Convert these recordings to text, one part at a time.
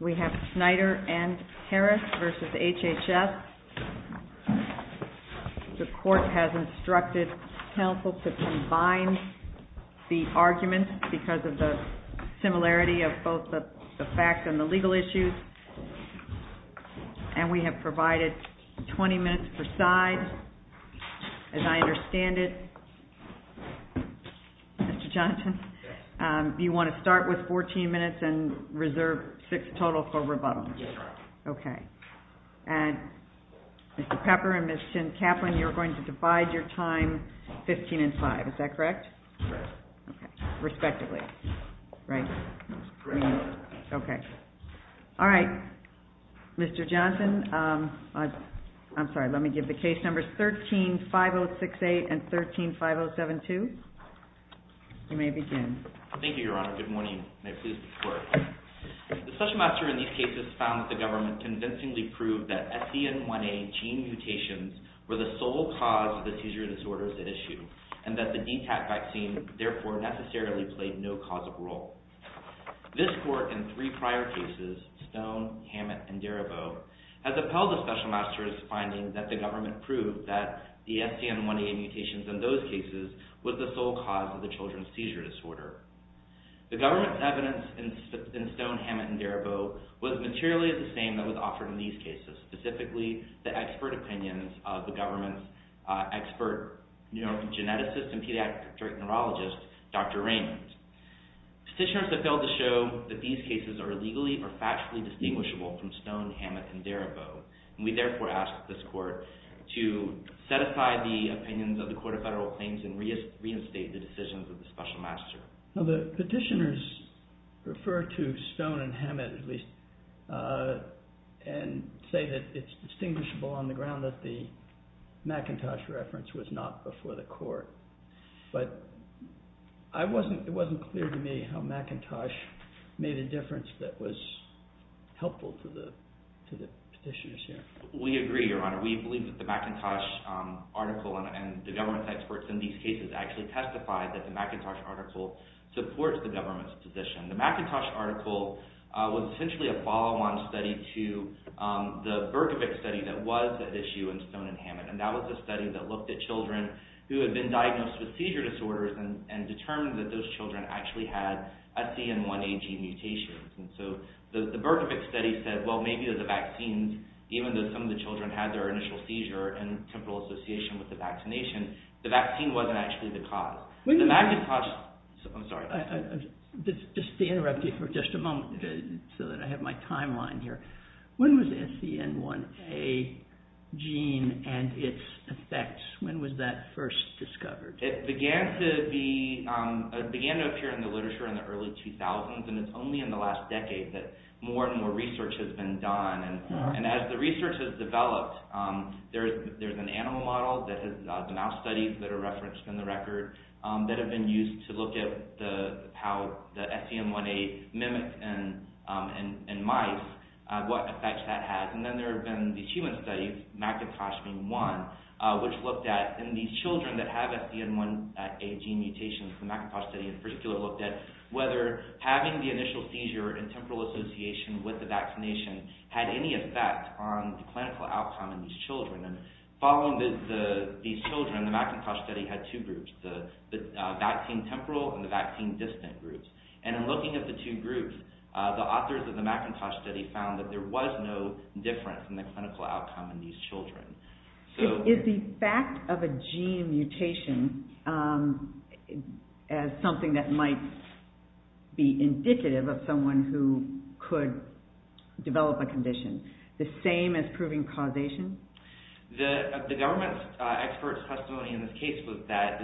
We have Schneider and Harris v. HHS. The court has instructed counsel to combine the arguments because of the similarity of both the facts and the legal issues. And we have provided 20 minutes per side. As I understand it, Mr. Johnson, you want to start with 14 minutes and reserve six total for rebuttal. Yes, ma'am. Okay. And Mr. Pepper and Ms. Shin-Kaplan, you're going to divide your time 15 and 5. Is that correct? Correct. Okay. Respectively, right? Correct. Okay. All right. Mr. Johnson, I'm sorry, let me give the case numbers 13-5068 and 13-5072. You may begin. Thank you, Your Honor. Good morning. May it please the Court. The special master in these cases found that the government convincingly proved that SDN1A gene mutations were the sole cause of the seizure disorders at issue, and that the DTaP vaccine, therefore, necessarily played no causative role. This court, in three prior cases, Stone, Hammett, and Darabault, has upheld the special master's findings that the government proved that the SDN1A mutations in those cases was the sole cause of the children's seizure disorder. The government's evidence in Stone, Hammett, and Darabault was materially the same that was offered in these cases, specifically the expert opinions of the government's expert geneticist and pediatric neurologist, Dr. Raymond. Petitioners have failed to show that these cases are illegally or factually distinguishable from Stone, Hammett, and Darabault, and we therefore ask this court to set aside the opinions of the Court of Federal Claims and reinstate the decisions of the special master. Now, the petitioners refer to Stone and Hammett, at least, and say that it's distinguishable on the ground that the McIntosh reference was not before the court, but it wasn't clear to me how McIntosh made a difference that was helpful to the petitioners here. We agree, Your Honor. We believe that the McIntosh article and the government's experts in these cases actually testified that the McIntosh article supports the government's position. The McIntosh article was essentially a follow-on study to the Berkovic study that was at issue in Stone and Hammett, and that was a study that looked at children who had been diagnosed with seizure disorders and determined that those children actually had SCN1AG mutations, and so the Berkovic study said, well, maybe the vaccines, even though some of the children had their initial seizure and temporal association with the vaccination, the vaccine wasn't actually the cause. The McIntosh... I'm sorry. Just to interrupt you for just a moment so that I have my timeline here. When was SCN1A gene and its effects, when was that first discovered? It began to appear in the literature in the early 2000s, and it's only in the last decade that more and more research has been done, and as the research has developed, there's an animal model that has been outstudied that are referenced in the record that have been used to look at how the SCN1A mimics in mice, what effects that has, and then there have been these human studies, McIntosh being one, which looked at in these children that have SCN1A gene mutations, the McIntosh study in particular looked at whether having the initial seizure and temporal association with the vaccination had any effect on the clinical outcome in these children, and following these children, the McIntosh study had two groups, the vaccine temporal and the vaccine distant groups, and in looking at the two groups, the authors of the McIntosh study found that there was no difference in the clinical outcome in these children. Is the fact of a gene mutation as something that might be indicative of someone who could develop a condition the same as proving causation? The government expert's testimony in this case was that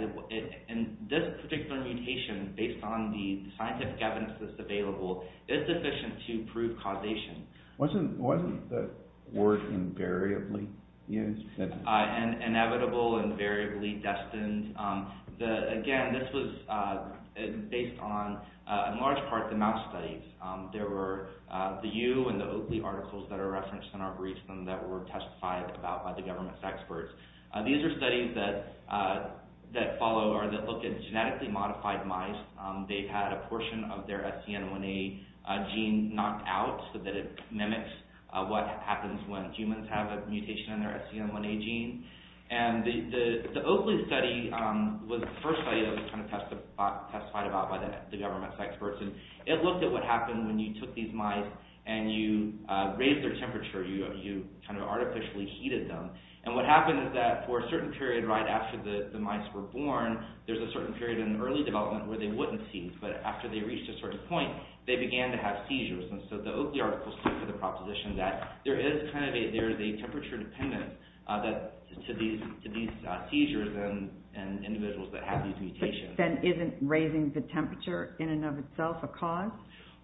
this particular mutation, based on the scientific evidence that's available, is sufficient to prove causation. Wasn't the word invariably used? Inevitable, invariably destined. Again, this was based on, in large part, the mouse studies. There were the You and the Oakley articles that are referenced in our briefs and that were testified about by the government's experts. These are studies that follow or that look at genetically modified mice. They've had a portion of their SCN1A gene knocked out so that it mimics what happens when humans have a mutation in their SCN1A gene, and the Oakley study was the first study that was testified about by the government's experts. It looked at what happened when you took these mice and you raised their temperature. You artificially heated them. What happened is that for a certain period right after the mice were born, there's a certain period in early development where they wouldn't seize, but after they reached a certain point, they began to have seizures. The Oakley articles took to the proposition that there is a temperature dependent to these mutations. Isn't raising the temperature in and of itself a cause?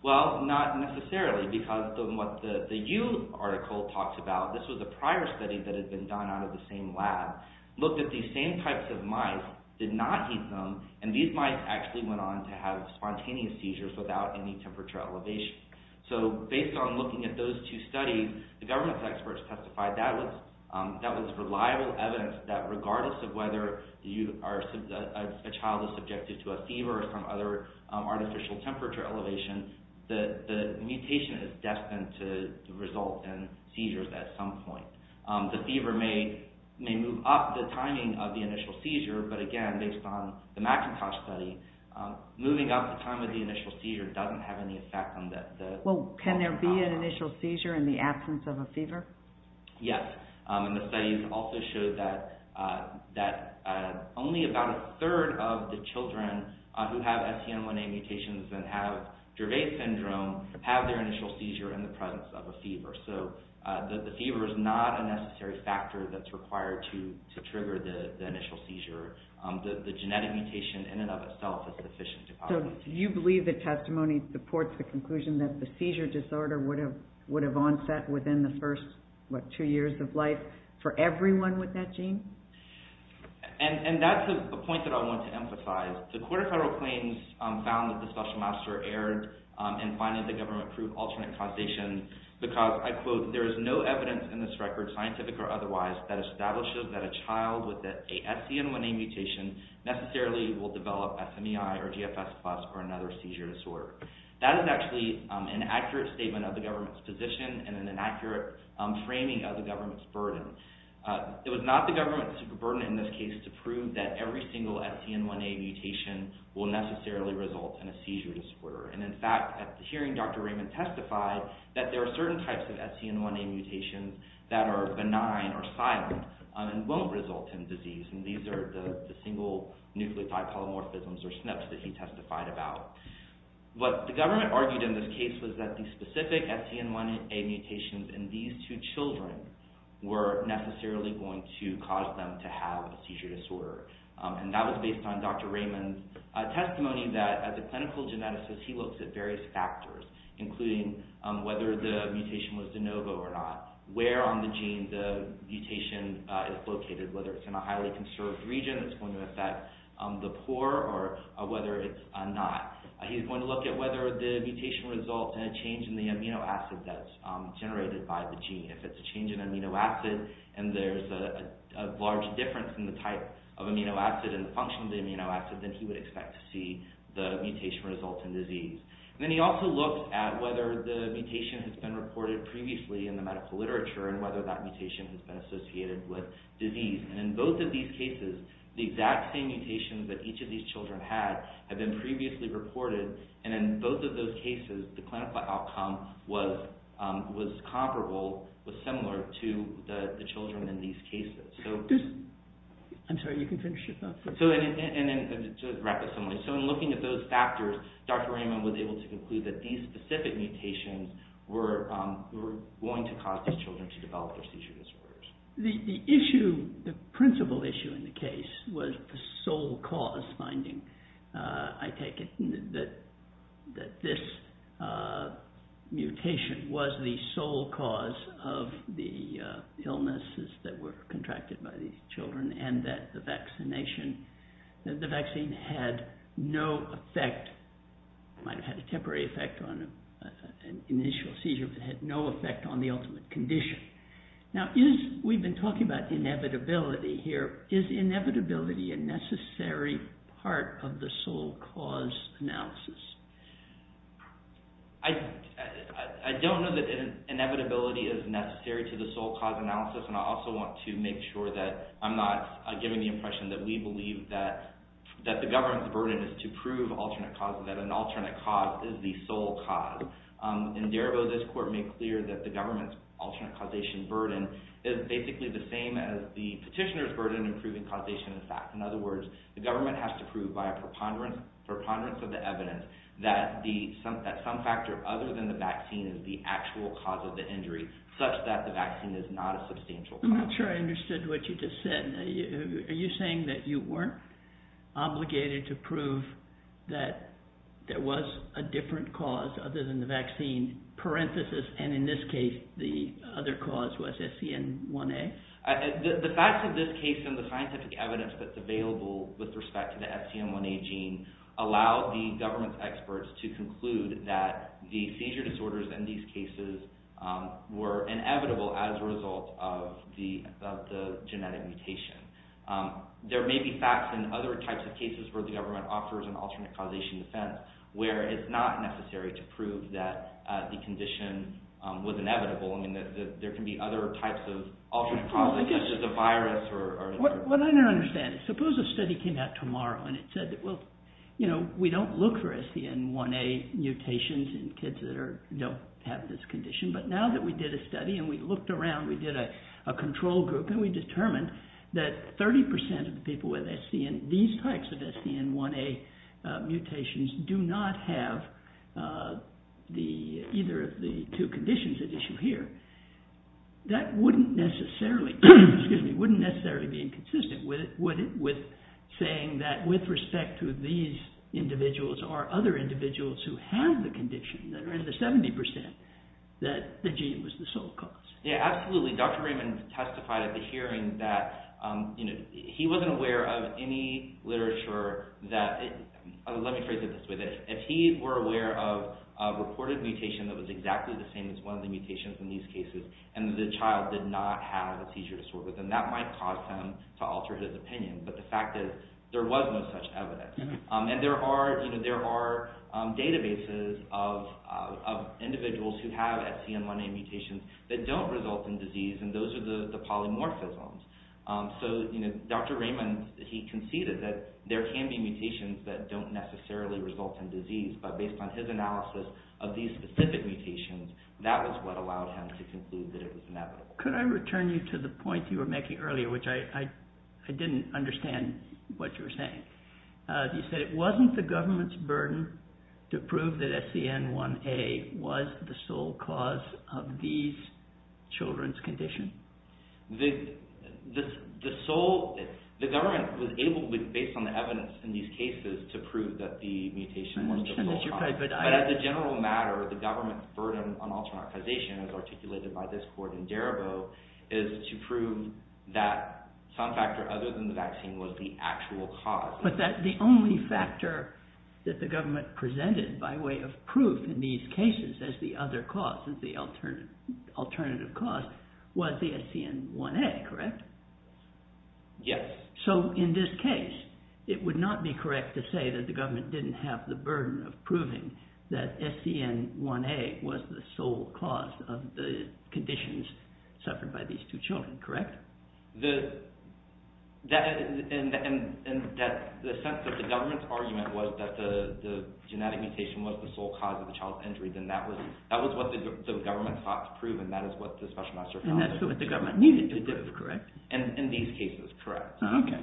Well, not necessarily, because what the You article talks about, this was a prior study that had been done out of the same lab, looked at these same types of mice, did not heat them, and these mice actually went on to have spontaneous seizures without any temperature elevation. Based on looking at those two studies, the government's experts testified that was reliable evidence that regardless of whether a child is subjected to a fever or some other artificial temperature elevation, the mutation is destined to result in seizures at some point. The fever may move up the timing of the initial seizure, but again, based on the McIntosh study, moving up the time of the initial seizure doesn't have any effect on that. Can there be an initial seizure in the absence of a fever? Yes. The studies also showed that only about a third of the children who have STM1A mutations and have Dervais syndrome have their initial seizure in the presence of a fever. The fever is not a necessary factor that's required to trigger the initial seizure. The genetic mutation in and of itself is sufficient to cause a seizure. Do you believe that testimony supports the conclusion that the seizure disorder would have onset within the first two years of life for everyone with that gene? That's a point that I want to emphasize. The Court of Federal Claims found that the special master erred in finding the government proved alternate causation because, I quote, there is no evidence in this record, scientific or otherwise, that establishes that a child with a STM1A mutation necessarily will develop SMEI or GFS plus or another seizure disorder. That is actually an accurate statement of the government's position and an inaccurate framing of the government's burden. It was not the government's burden in this case to prove that every single STM1A mutation will necessarily result in a seizure disorder. In fact, hearing Dr. Raymond testify that there are certain types of STM1A mutations that are benign or silent and won't result in disease. These are the single nucleotide polymorphisms or SNPs that he testified about. What the government argued in this case was that the specific STM1A mutations in these two children were necessarily going to cause them to have a seizure disorder. That was based on Dr. Raymond's testimony that, as a clinical geneticist, he looks at various factors including whether the mutation was de novo or not, where on the gene the mutation is located, whether it's in a highly conserved region that's going to affect the child. He's going to look at whether the mutation results in a change in the amino acid that's generated by the gene. If it's a change in amino acid and there's a large difference in the type of amino acid and the function of the amino acid, then he would expect to see the mutation result in disease. Then he also looked at whether the mutation has been reported previously in the medical literature and whether that mutation has been associated with disease. In both of these cases, the exact same mutations that each of these children had have been previously reported. In both of those cases, the clinical outcome was comparable, was similar to the children in these cases. I'm sorry, you can finish it up. To wrap this up, in looking at those factors, Dr. Raymond was able to conclude that these specific mutations were going to cause these children to develop their seizure disorders. The principal issue in the case was the sole cause finding. I take it that this mutation was the sole cause of the illnesses that were contracted by these children and that the vaccine had no effect. It might have had a temporary effect on an initial seizure, but it had no effect on the ultimate condition. We've been talking about inevitability here. Is inevitability a necessary part of the sole cause analysis? I don't know that inevitability is necessary to the sole cause analysis. I also want to make sure that I'm not giving the impression that we believe that the government's burden is to prove alternate causes, that an alternate cause is the sole cause. In Darabo, this court made clear that the government's alternate causation burden is basically the same as the petitioner's burden in proving causation effects. In other words, the government has to prove by a preponderance of the evidence that some factor other than the vaccine is the actual cause of the injury, such that the vaccine is not a substantial cause. I'm not sure I understood what you just said. Are you saying that you weren't obligated to prove that there was a different cause other than the vaccine, parenthesis, and in this case, the other cause was SCN1A? The facts of this case and the scientific evidence that's available with respect to the SCN1A gene allow the government's experts to conclude that the seizure disorders in these cases were inevitable as a result of the genetic mutation. There may be facts in other types of cases where the government offers an alternate causation defense where it's not necessary to prove that the condition was inevitable. There can be other types of alternate causation, such as a virus or... What I don't understand is, suppose a study came out tomorrow and it said, well, we don't look for SCN1A mutations in kids that don't have this condition. But now that we did a study and we looked around, we did a control group, and we determined that 30% of the people with these types of SCN1A mutations do not have either of the two conditions at issue here, that wouldn't necessarily be inconsistent with saying that with respect to these individuals or other individuals who have the condition, that are in the 70%, that the gene was the sole cause. Yeah, absolutely. Dr. Raymond testified at the hearing that he wasn't aware of any literature that... Let me phrase it this way, that if he were aware of a reported mutation that was exactly the same as one of the mutations in these cases, and the child did not have a seizure disorder, then that might cause him to alter his opinion. But the fact is, there was no such evidence. And there are databases of individuals who have SCN1A mutations that don't result in disease, and those are the polymorphisms. So Dr. Raymond, he conceded that there can be mutations that don't necessarily result in disease, but based on his analysis of these specific mutations, that was what allowed him to conclude that it was inevitable. Could I return you to the point you were making earlier, which I didn't understand what you were saying. You said it wasn't the government's burden to prove that SCN1A was the sole cause of these children's condition. The government was able, based on the evidence in these cases, to prove that the mutation was the sole cause. But as a general matter, the government's burden on alternarchization, as articulated by this court in Darabo, is to prove that some factor other than the vaccine was the actual cause. But the only factor that the government presented by way of proof in these cases as the other cause, as the alternative cause, was the SCN1A, correct? Yes. So in this case, it would not be correct to say that the government didn't have the burden of proving that SCN1A was the sole cause of the conditions suffered by these two children, correct? The sense that the government's argument was that the genetic mutation was the sole cause of the child's injury, then that was what the government sought to prove, and that is what the special master found. And that's what the government needed to do, correct? In these cases, correct. Okay.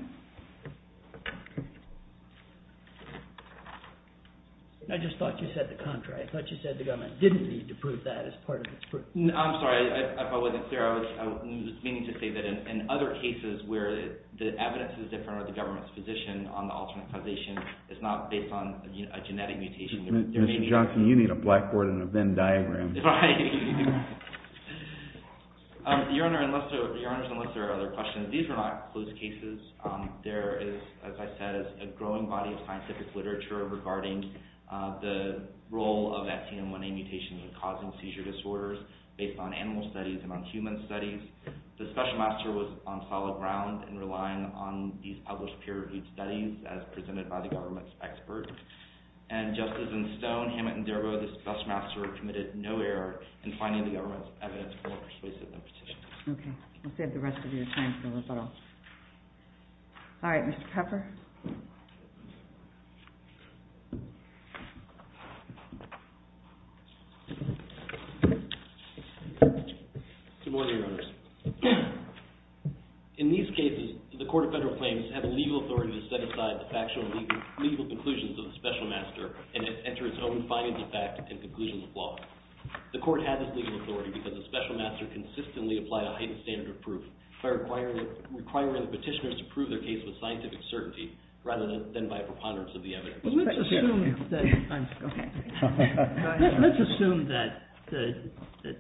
I just thought you said the contrary. I thought you said the government didn't need to prove that as part of its proof. No, I'm sorry. If I wasn't clear, I was meaning to say that in other cases where the evidence is different or the government's position on the alternarchization is not based on a genetic mutation. Mr. Johnson, you need a blackboard and a Venn diagram. Right. Your Honor, unless there are other questions, these were not closed cases. There is, as I said, a growing body of scientific literature regarding the role of SCN1A mutations in causing seizure disorders based on animal studies and on human studies. The special master was on solid ground in relying on these published peer-reviewed studies as presented by the government's expert. And just as in Stone, Hammett, and Darbo, the special master committed no error in finding the government's evidence more persuasive than Petitioner. Okay. I'll save the rest of your time for the rebuttal. All right. Mr. Pepper. Good morning, Your Honors. In these cases, the Court of Federal Claims had the legal authority to set aside the factual and legal conclusions of the special master and enter its own findings of fact and conclusions of law. The Court had this legal authority because the special master consistently applied a heightened standard of proof by requiring the petitioners to prove their case with scientific certainty rather than by a preponderance of the evidence. Let's assume that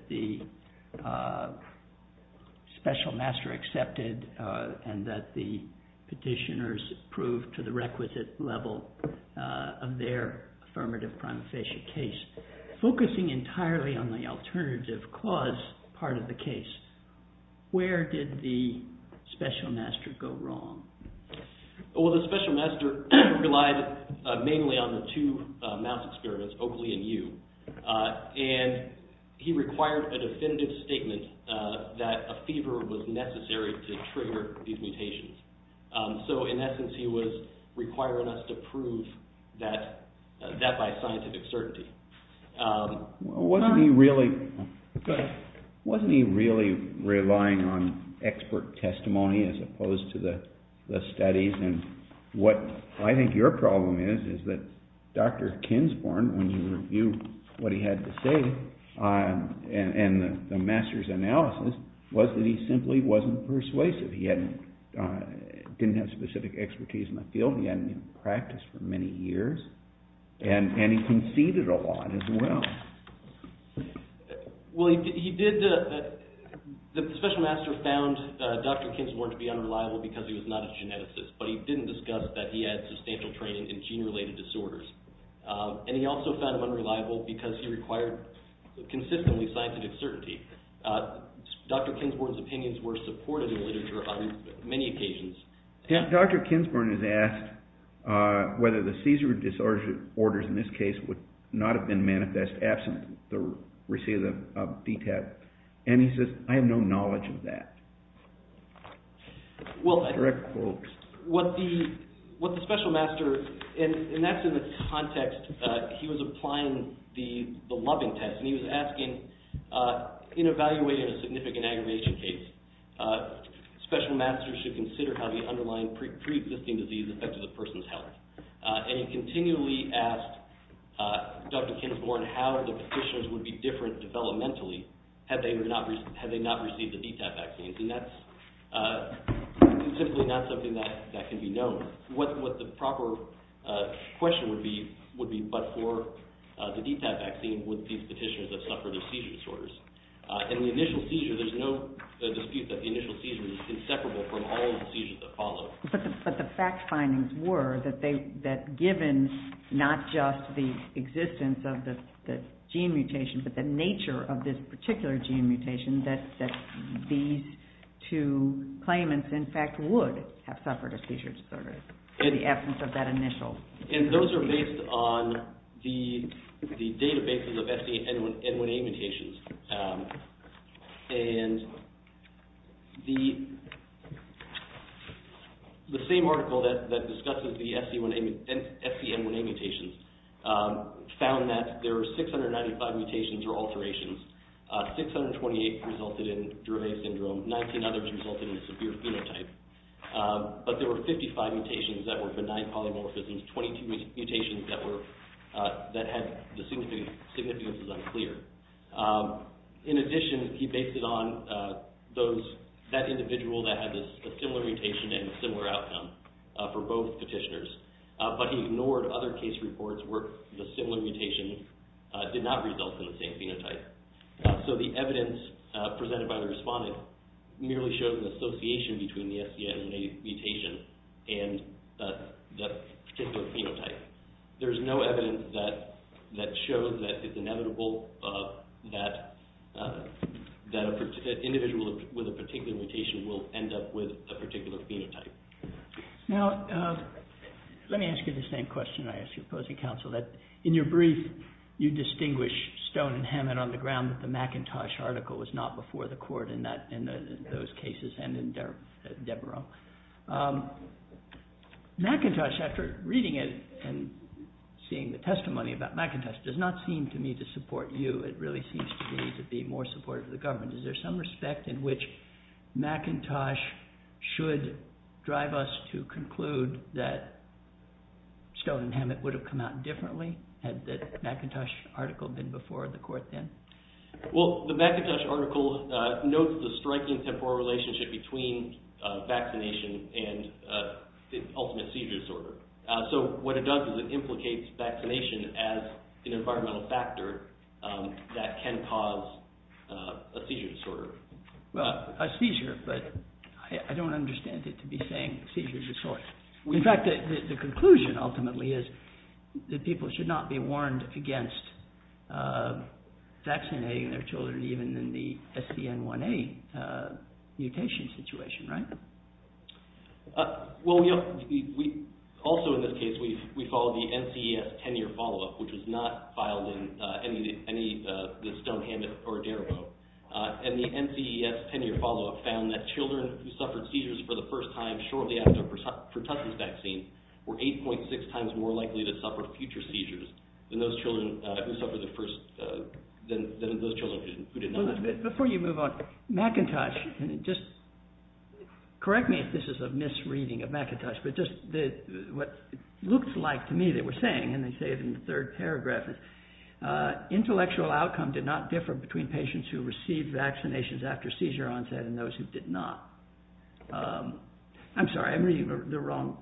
the special master accepted and that the petitioners proved to the requisite level of their affirmative prima facie case. Focusing entirely on the alternative clause part of the case, where did the special master go wrong? Well, the special master relied mainly on the two mouse experiments, Oakley and Yu, and he required a definitive statement that a fever was necessary to trigger these mutations. So in essence, he was requiring us to prove that by scientific certainty. Wasn't he really relying on expert testimony as opposed to the studies? And what I think your problem is, is that Dr. Kinsporn, when you review what he had to say in the master's analysis, was that he simply wasn't persuasive. He didn't have specific expertise in the field, he hadn't practiced for many years, and he conceded a lot as well. Well, the special master found Dr. Kinsporn to be unreliable because he was not a geneticist, but he didn't discuss that he had substantial training in gene-related disorders. And he also found him unreliable because he required consistently scientific certainty. Dr. Kinsporn's opinions were supported in literature on many occasions. Dr. Kinsporn is asked whether the seizure disorders in this case would not have been manifest absent the receipt of the DTAP, and he says, I have no knowledge of that. Well, what the special master, and that's in the context that he was applying the loving test, and he was asking, in evaluating a significant aggravation case, special masters should consider how the underlying pre-existing disease affected the person's health. And he continually asked Dr. Kinsporn how the conditions would be different developmentally had they not received the DTAP vaccines, and that's simply not something that can be known. What the proper question would be, would be, but for the DTAP vaccine, would these petitioners have suffered of seizure disorders? In the initial seizure, there's no dispute that the initial seizure was inseparable from all the seizures that followed. But the fact findings were that given not just the existence of the gene mutation, but the nature of this particular gene mutation, that these two claimants in fact would have suffered seizure disorders in the absence of that initial. And those are based on the databases of SCN1A mutations, and the same article that discusses the SCN1A mutations found that there were 695 mutations or alterations, 628 resulted in Drouvet syndrome, 19 others resulted in a severe phenotype. But there were 55 mutations that were benign polymorphisms, 22 mutations that had the significance as unclear. In addition, he based it on that individual that had a similar mutation and similar outcome for both petitioners. But he ignored other case reports where the similar mutation did not result in the same phenotype. So the evidence presented by the respondent merely shows the association between the SCN1A mutation and that particular phenotype. There's no evidence that shows that it's inevitable that an individual with a particular mutation will end up with a particular phenotype. Now, let me ask you the same question I asked your opposing counsel, that in your brief you distinguish Stone and Hammett on the ground that the McIntosh article was not before the court in those cases and in Devereux. McIntosh, after reading it and seeing the testimony about McIntosh, does not seem to me to support you. It really seems to me to be more supportive of the government. Is there some respect in which McIntosh should drive us to conclude that Stone and Hammett would have come out differently had the McIntosh article been before the court then? Well, the McIntosh article notes the striking temporal relationship between vaccination and the ultimate seizure disorder. So what it does is it implicates vaccination as an environmental factor that can cause a seizure disorder. Well, a seizure, but I don't understand it to be saying seizure disorder. In fact, the conclusion ultimately is that people should not be warned against vaccinating their children even in the SCN1A mutation situation, right? Well, also in this case, we followed the NCES 10-year follow-up, which was not filed in any of the Stone, Hammett, or Devereux. And the NCES 10-year follow-up found that children who suffered seizures for the first time shortly after Pertussis vaccine were 8.6 times more likely to suffer future seizures than those children who did not. Before you move on, McIntosh, and just correct me if this is a misreading of McIntosh, but just what it looked like to me they were saying, and they say it in the third paragraph, intellectual outcome did not differ between patients who received vaccinations after seizure onset and those who did not. I'm sorry, I'm reading the wrong...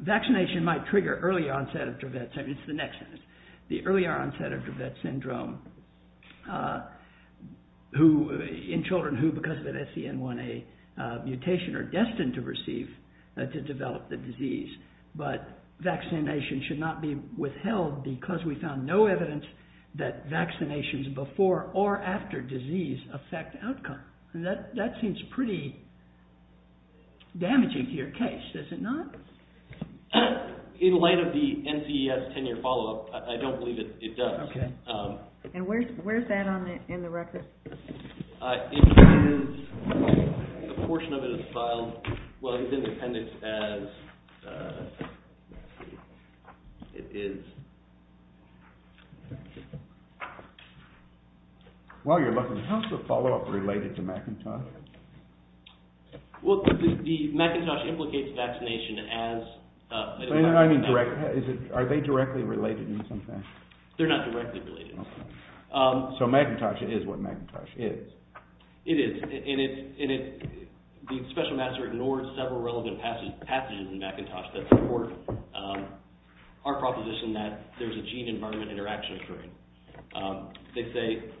Vaccination might trigger early onset of Dravet syndrome. It's the next sentence. The earlier onset of Dravet syndrome in children who, because of an SCN1A mutation, are destined to receive, to develop the disease, but vaccination should not be withheld because we found no evidence that vaccinations before or after disease affect outcome. That seems pretty damaging to your case, does it not? In light of the NCES 10-year follow-up, I don't believe it does. Okay. And where's that in the record? It is, a portion of it is filed, well, it's in the appendix as it is. While you're looking, how's the follow-up related to McIntosh? Well, the McIntosh implicates vaccination as... I mean, are they directly related in some fashion? They're not directly related. So McIntosh is what McIntosh is. It is, and the special master ignored several relevant passages in McIntosh that support our proposition that there's a gene-environment interaction occurring. They say,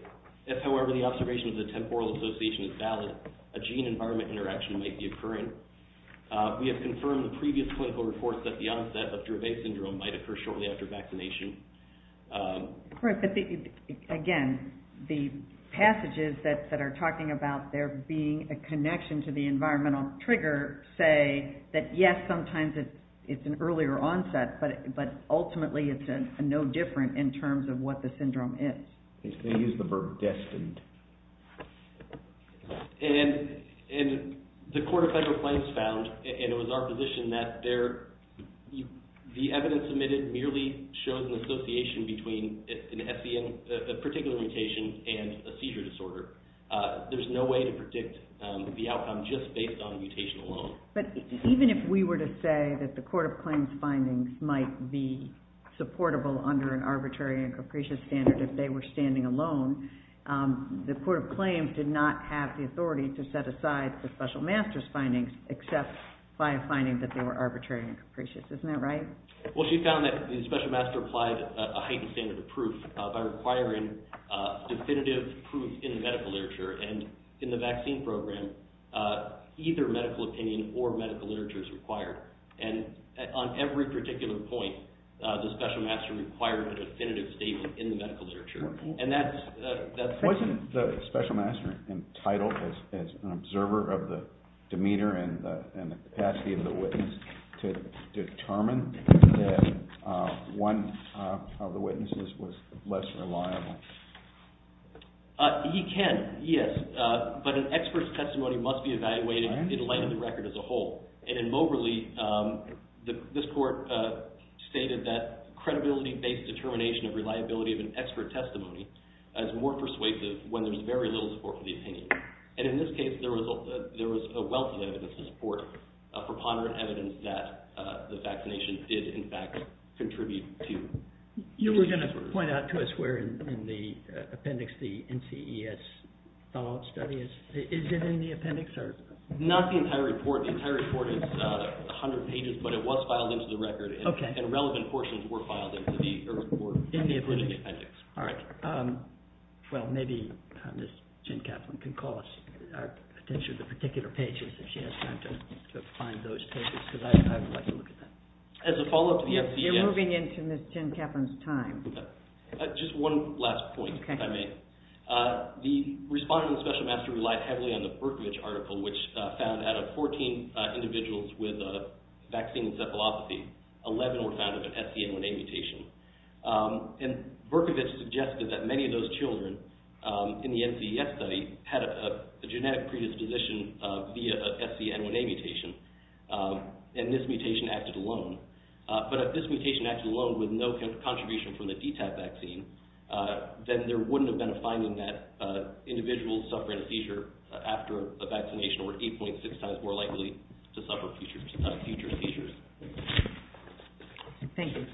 if however the observation of the temporal association is valid, a gene-environment interaction might be occurring. We have confirmed in previous clinical reports that the onset of Dravet syndrome might occur shortly after vaccination. Right, but again, the passages that are talking about there being a connection to the environmental trigger say that yes, sometimes it's an earlier onset, but ultimately it's no different in terms of what the syndrome is. They use the verb destined. And the Court of Federal Claims found, and it was our position that the evidence submitted merely shows an association between a particular mutation and a seizure disorder. There's no way to predict the outcome just based on mutation alone. But even if we were to say that the Court of Claims findings might be supportable under an arbitrary and capricious standard if they were standing alone, the Court of Claims did not have the authority to set aside the special master's findings except by finding that they were arbitrary and capricious. Isn't that right? Well, she found that the special master applied a heightened standard of proof by requiring definitive proof in the medical literature. And in the vaccine program, either medical opinion or medical literature is required. And on every particular point, the special master required a definitive statement in the medical literature. Wasn't the special master entitled as an observer of the demeanor and the capacity of the witness to determine that one of the witnesses was less reliable? He can, yes. But an expert's testimony must be evaluated in light of the record as a whole. And in Moberly, this Court stated that credibility-based determination of reliability of an expert testimony is more persuasive when there's very little support for the opinion. And in this case, there was a wealthy evidence to support it, a preponderant evidence that the vaccination did, in fact, contribute to. You were going to point out to us where in the appendix the NCES follow-up study is. Is it in the appendix? Not the entire report. The entire report is 100 pages, but it was filed into the record. And relevant portions were filed into the court appendix. All right. Well, maybe Ms. Jen Kaplan can call us, potentially the particular pages, if she has time to find those pages, because I would like to look at that. As a follow-up to the NCES- We're moving into Ms. Jen Kaplan's time. Just one last point, if I may. The respondent of the special master relied heavily on the Berkovich article, which found out of 14 individuals with a vaccine encephalopathy, 11 were found with an SCN1A mutation. And Berkovich suggested that many of those children in the NCES study had a genetic predisposition via a SCN1A mutation, and this mutation acted alone. But if this mutation acted alone with no contribution from the DTaP vaccine, then there wouldn't have been a finding that individuals suffering a seizure after a vaccination were 8.6 times more likely to suffer future seizures. Thank you.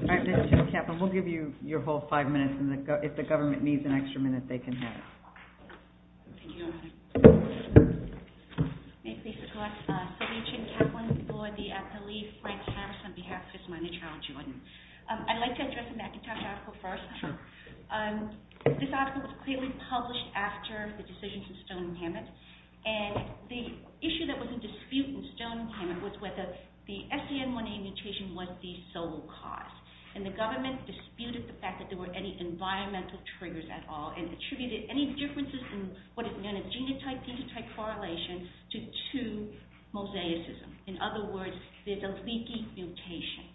All right. Ms. Jen Kaplan, we'll give you your whole five minutes, and if the government needs an extra minute, they can have it. Thank you, Your Honor. May it please the Court. Sylvia Jen Kaplan for the athlete, Frank Harris, on behalf of his minor child, Jordan. I'd like to address the McIntosh article first. Sure. This article was clearly published after the decisions in Stone and Hammond, and the issue that was in dispute in Stone and Hammond was whether the SCN1A mutation was the sole cause. And the government disputed the fact that there were any environmental triggers at all and attributed any differences in what is known as genotype-genotype correlation to two mosaicism. In other words, there's a leaky mutation.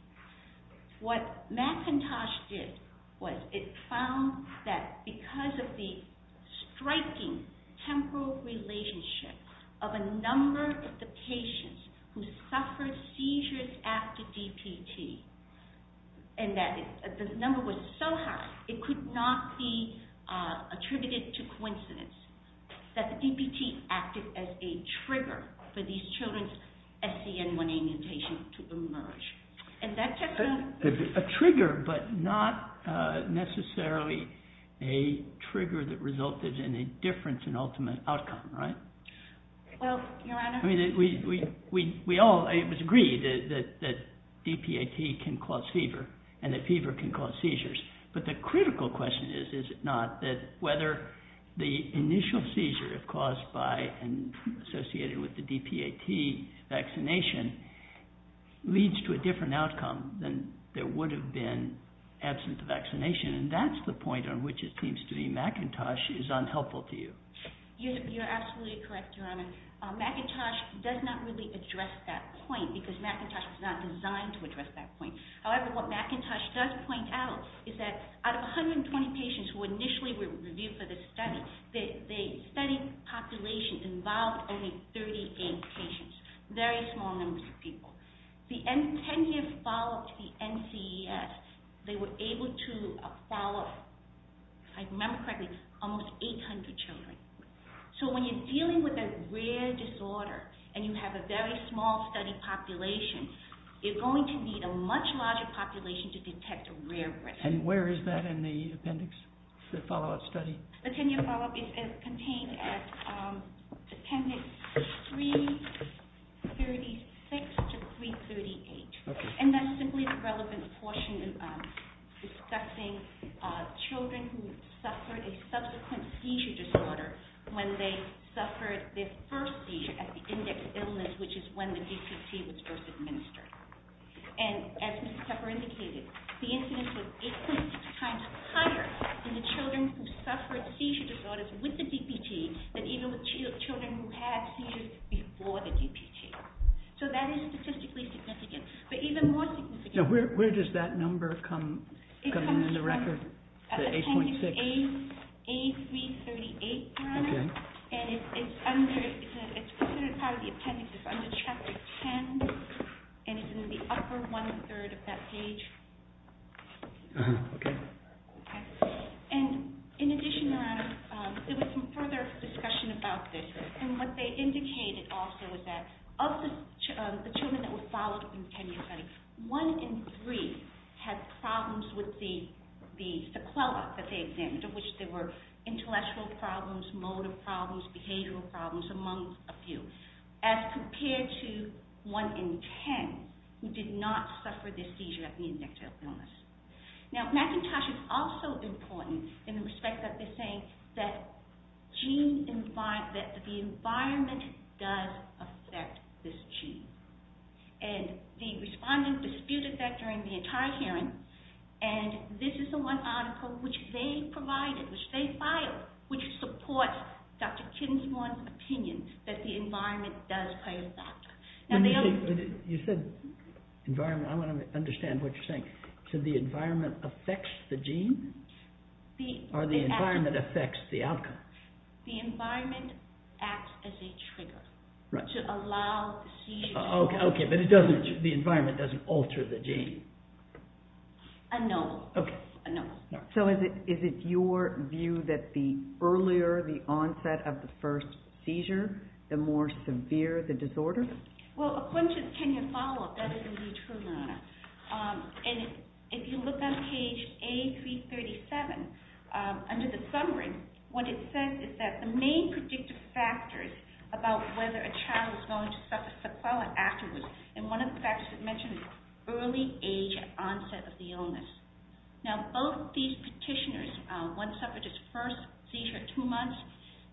What McIntosh did was it found that because of the striking temporal relationship of a number of the patients who suffered seizures after DPT, and that the number was so high it could not be attributed to coincidence, that the DPT acted as a trigger for these children's SCN1A mutation to emerge. And that... A trigger, but not necessarily a trigger that resulted in a difference in ultimate outcome, right? Well, Your Honor... I mean, we all agree that DPT can cause fever, and that fever can cause seizures. But the critical question is, is it not, that whether the initial seizure caused by and associated with the DPT vaccination leads to a different outcome than there would have been absent the vaccination. And that's the point on which it seems to me McIntosh is unhelpful to you. You're absolutely correct, Your Honor. McIntosh does not really address that point, because McIntosh is not designed to address that point. However, what McIntosh does point out is that out of 120 patients who initially were reviewed for this study, the study population involved only 38 patients. Very small numbers of people. The 10-year follow-up to the NCES, they were able to follow up, if I remember correctly, with almost 800 children. So when you're dealing with a rare disorder, and you have a very small study population, you're going to need a much larger population to detect a rare risk. And where is that in the appendix, the follow-up study? The 10-year follow-up is contained at appendix 336 to 338. And that's simply the relevant portion discussing children who suffered a subsequent seizure disorder when they suffered their first seizure at the index illness, which is when the DPT was first administered. And as Ms. Tupper indicated, the incidence was 8.6 times higher in the children who suffered seizure disorders with the DPT than even with children who had seizures before the DPT. So that is statistically significant. But even more significant... Now, where does that number come in the record, the 8.6? It comes from appendix A338, Your Honor. Okay. And it's considered part of the appendix. It's under Chapter 10, and it's in the upper one-third of that page. Okay. Okay. And in addition, Your Honor, there was some further discussion about this. And what they indicated also is that of the children that were followed in the 10-year study, 1 in 3 had problems with the sequela that they examined, of which there were intellectual problems, motor problems, behavioral problems, among a few, as compared to 1 in 10 who did not suffer the seizure at the index illness. Now, McIntosh is also important in the respect that they're saying that the environment does affect this gene. And the respondent disputed that during the entire hearing, and this is the one article which they provided, which they filed, which supports Dr. Kittensworth's opinion that the environment does play a factor. You said environment. I want to understand what you're saying. So the environment affects the gene? Or the environment affects the outcome? The environment acts as a trigger to allow seizures. Okay, but the environment doesn't alter the gene? No. Okay. No. So is it your view that the earlier the onset of the first seizure, the more severe the disorder? Well, according to the tenure follow-up, that is indeed true, Your Honor. And if you look on page A337, under the summary, what it says is that the main predictive factors about whether a child is going to suffer sequela afterwards, and one of the factors it mentions is early age at onset of the illness. Now, both these petitioners, one suffered his first seizure at two months,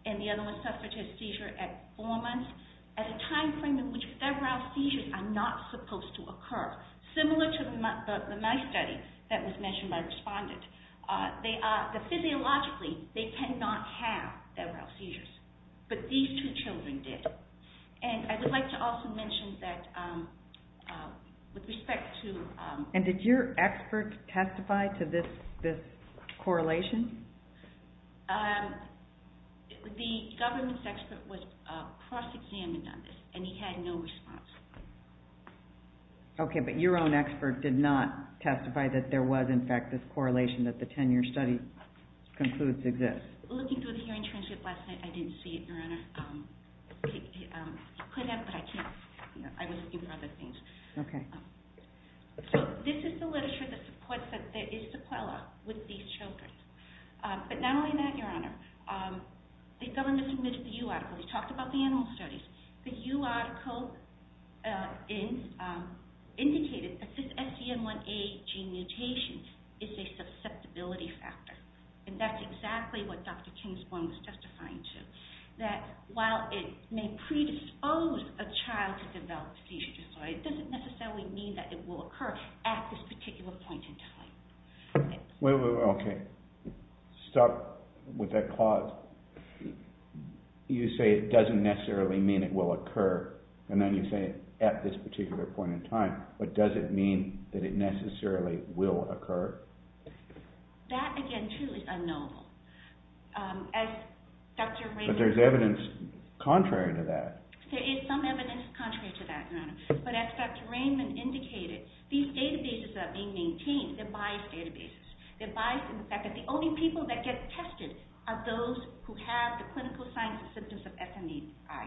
and the other suffered his seizure at four months, at a time frame in which febrile seizures are not supposed to occur, similar to the mice study that was mentioned by the respondent. Physiologically, they cannot have febrile seizures, but these two children did. And I would like to also mention that with respect to... And did your expert testify to this correlation? The government's expert was cross-examined on this, and he had no response. Okay, but your own expert did not testify that there was, in fact, this correlation that the tenure study concludes exists? Looking through the hearing transcript last night, I didn't see it, Your Honor. He could have, but I can't... I was looking for other things. Okay. So this is the literature that supports that there is sequela with these children. But not only that, Your Honor, the government submitted the U article. It talked about the animal studies. The U article indicated that this SCM1A gene mutation is a susceptibility factor, and that's exactly what Dr. Kingsborn was testifying to, that while it may predispose a child to develop seizure disorder, it doesn't necessarily mean that it will occur at this particular point in time. Wait, wait, wait, okay. Stop with that clause. You say it doesn't necessarily mean it will occur, and then you say at this particular point in time, but does it mean that it necessarily will occur? That, again, too, is unknowable. But there's evidence contrary to that. There is some evidence contrary to that, Your Honor. But as Dr. Raymond indicated, these databases are being maintained. They're biased databases. They're biased in the fact that the only people that get tested are those who have the clinical signs and symptoms of SMEI.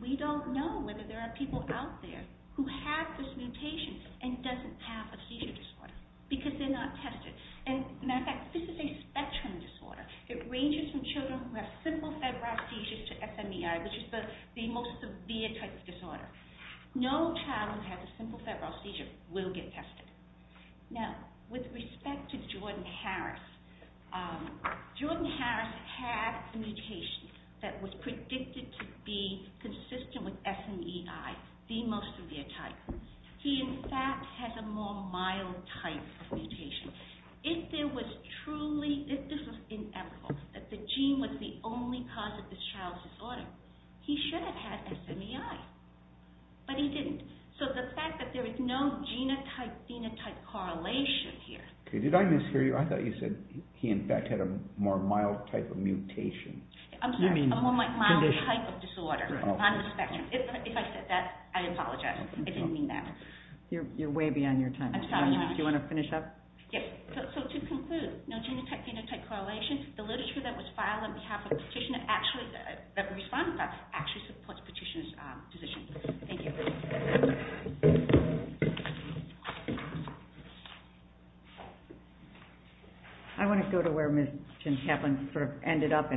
We don't know whether there are people out there who have this mutation and doesn't have a seizure disorder because they're not tested. And, matter of fact, this is a spectrum disorder. It ranges from children who have simple febrile seizures to SMEI, which is the most severe type of disorder. No child who has a simple febrile seizure will get tested. Now, with respect to Jordan Harris, Jordan Harris had a mutation that was predicted to be consistent with SMEI, the most severe type. He, in fact, has a more mild type of mutation. If this was inevitable, that the gene was the only cause of this child's disorder, he should have had SMEI, but he didn't. So the fact that there is no genotype-phenotype correlation here... Did I mishear you? I thought you said he, in fact, had a more mild type of mutation. I'm sorry. A more mild type of disorder on the spectrum. If I said that, I apologize. I didn't mean that. You're way beyond your time. Do you want to finish up? Yes. So to conclude, no genotype-phenotype correlation. The literature that was filed on behalf of the petitioner actually supports the petitioner's position. Thank you. I want to go to where Ms. Gencaplan sort of ended up,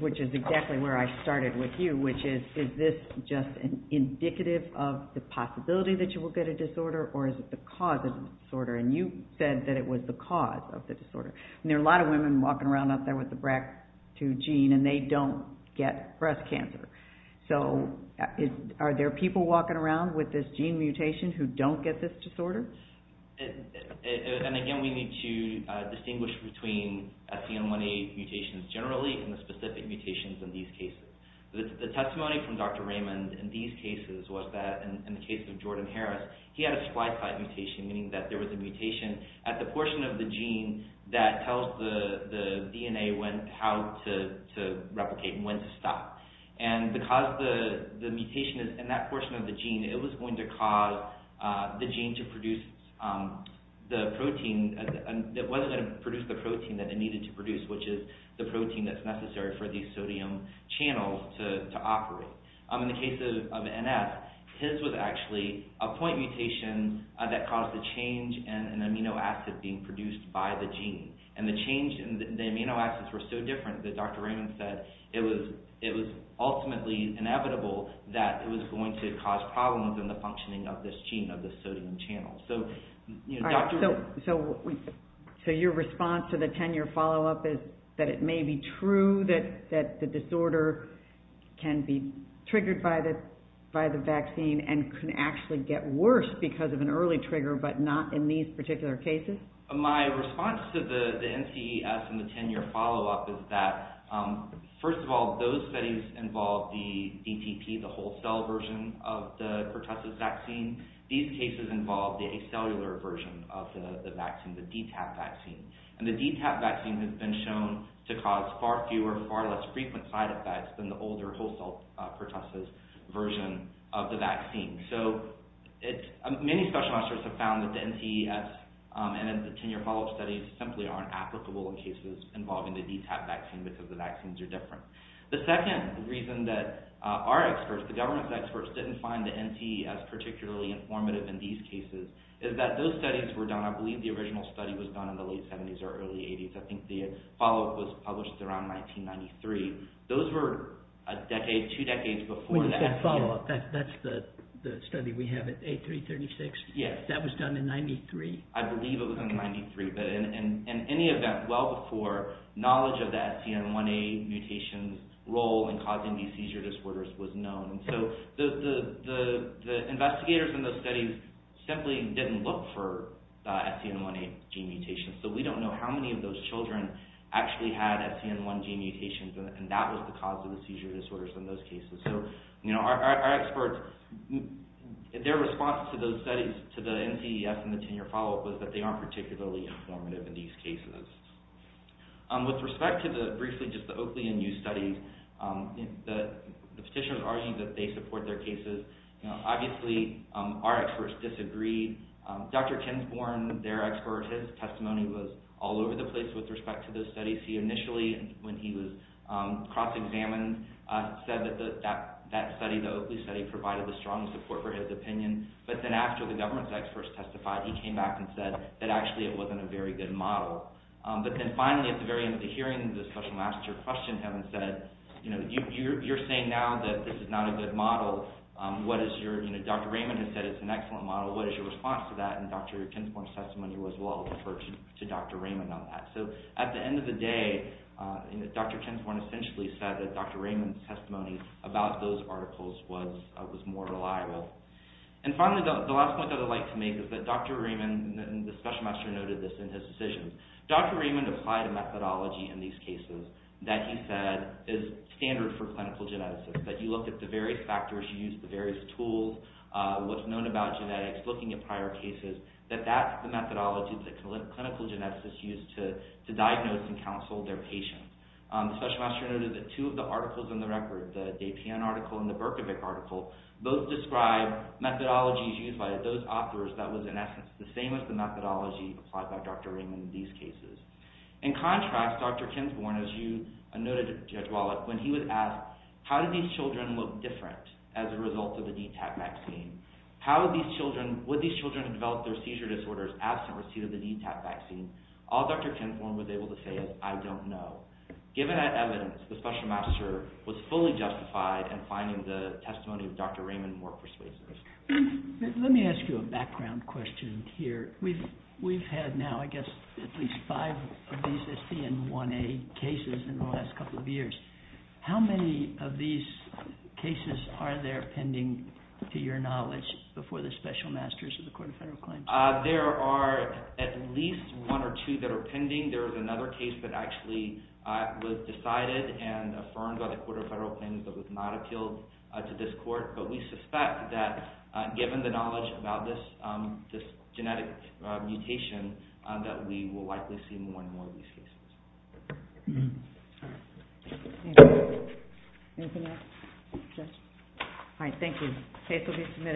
which is exactly where I started with you, which is, is this just indicative of the possibility that you will get a disorder or is it the cause of the disorder? And you said that it was the cause of the disorder. And there are a lot of women walking around out there with the BRCA2 gene and they don't get breast cancer. So are there people walking around with this gene mutation who don't get this disorder? And again, we need to distinguish between CM18 mutations generally and the specific mutations in these cases. The testimony from Dr. Raymond in these cases was that, in the case of Jordan Harris, he had a splice-type mutation, meaning that there was a mutation at the portion of the gene that tells the DNA how to replicate and when to stop. And because the mutation is in that portion of the gene, it was going to cause the gene to produce the protein that wasn't going to produce the protein that it needed to produce, which is the protein that's necessary for these sodium channels to operate. In the case of NF, his was actually a point mutation that caused a change in an amino acid being produced by the gene. And the change in the amino acids were so different that Dr. Raymond said it was ultimately inevitable that it was going to cause problems in the functioning of this gene, of this sodium channel. So your response to the tenure follow-up is that it may be true that the disorder can be triggered by the vaccine and can actually get worse because of an early trigger, but not in these particular cases? My response to the NCES and the tenure follow-up is that, first of all, those studies involved the DTP, the whole cell version of the pertussis vaccine. These cases involved the acellular version of the vaccine, the DTaP vaccine. And the DTaP vaccine has been shown to cause far fewer, far less frequent side effects than the older whole cell pertussis version of the vaccine. So many specialists have found that the NCES and the tenure follow-up studies simply aren't applicable in cases involving the DTaP vaccine because the vaccines are different. The second reason that our experts, the government's experts, didn't find the NCES particularly informative in these cases is that those studies were done, I believe the original study was done in the late 70s or early 80s. I think the follow-up was published around 1993. Those were a decade, two decades before that. Wait a second, follow-up, that's the study we have at A336? Yes. That was done in 93? I believe it was done in 93, but in any event, well before, knowledge of the STN1A mutation's role in causing these seizure disorders was known. So the investigators in those studies simply didn't look for STN1A gene mutations. So we don't know how many of those children actually had STN1 gene mutations, and that was the cause of the seizure disorders in those cases. So our experts, their response to those studies, to the NCES and the tenure follow-up, was that they aren't particularly informative in these cases. With respect to briefly just the Oakley and you studies, the petitioners argued that they support their cases. Obviously, our experts disagreed. Dr. Ken Forn, their expert, his testimony was all over the place with respect to those studies. He initially, when he was cross-examined, said that that study, the Oakley study, provided the strongest support for his opinion. But then after the government's experts testified, he came back and said that actually it wasn't a very good model. But then finally, at the very end of the hearing, the special master questioned him and said, you're saying now that this is not a good model. Dr. Raymond has said it's an excellent model. What is your response to that? Dr. Ken Forn's testimony was well referred to Dr. Raymond on that. So at the end of the day, Dr. Ken Forn essentially said that Dr. Raymond's testimony about those articles was more reliable. And the special master noted this in his decisions. Dr. Raymond applied a methodology in these cases that he said is standard for clinical geneticists, that you look at the various factors, you use the various tools, what's known about genetics, looking at prior cases, that that's the methodology that clinical geneticists use to diagnose and counsel their patients. The special master noted that two of the articles in the record, the DePian article and the Berkovic article, both describe methodologies used by those authors that was, in essence, the same as the methodology applied by Dr. Raymond in these cases. In contrast, Dr. Ken Forn, as you noted, Judge Wallach, when he was asked how did these children look different as a result of the DTaP vaccine, would these children develop their seizure disorders absent receipt of the DTaP vaccine, all Dr. Ken Forn was able to say is, I don't know. Given that evidence, the special master was fully justified in finding the testimony of Dr. Raymond more persuasive. Let me ask you a background question here. We've had now, I guess, at least five of these ST and 1A cases in the last couple of years. How many of these cases are there pending, to your knowledge, before the special masters of the Court of Federal Claims? There are at least one or two that are pending. There is another case that actually was decided and affirmed by the Court of Federal Claims but was not appealed to this court. But we suspect that given the knowledge about this genetic mutation, that we will likely see more and more of these cases. Thank you. Anything else? All right, thank you.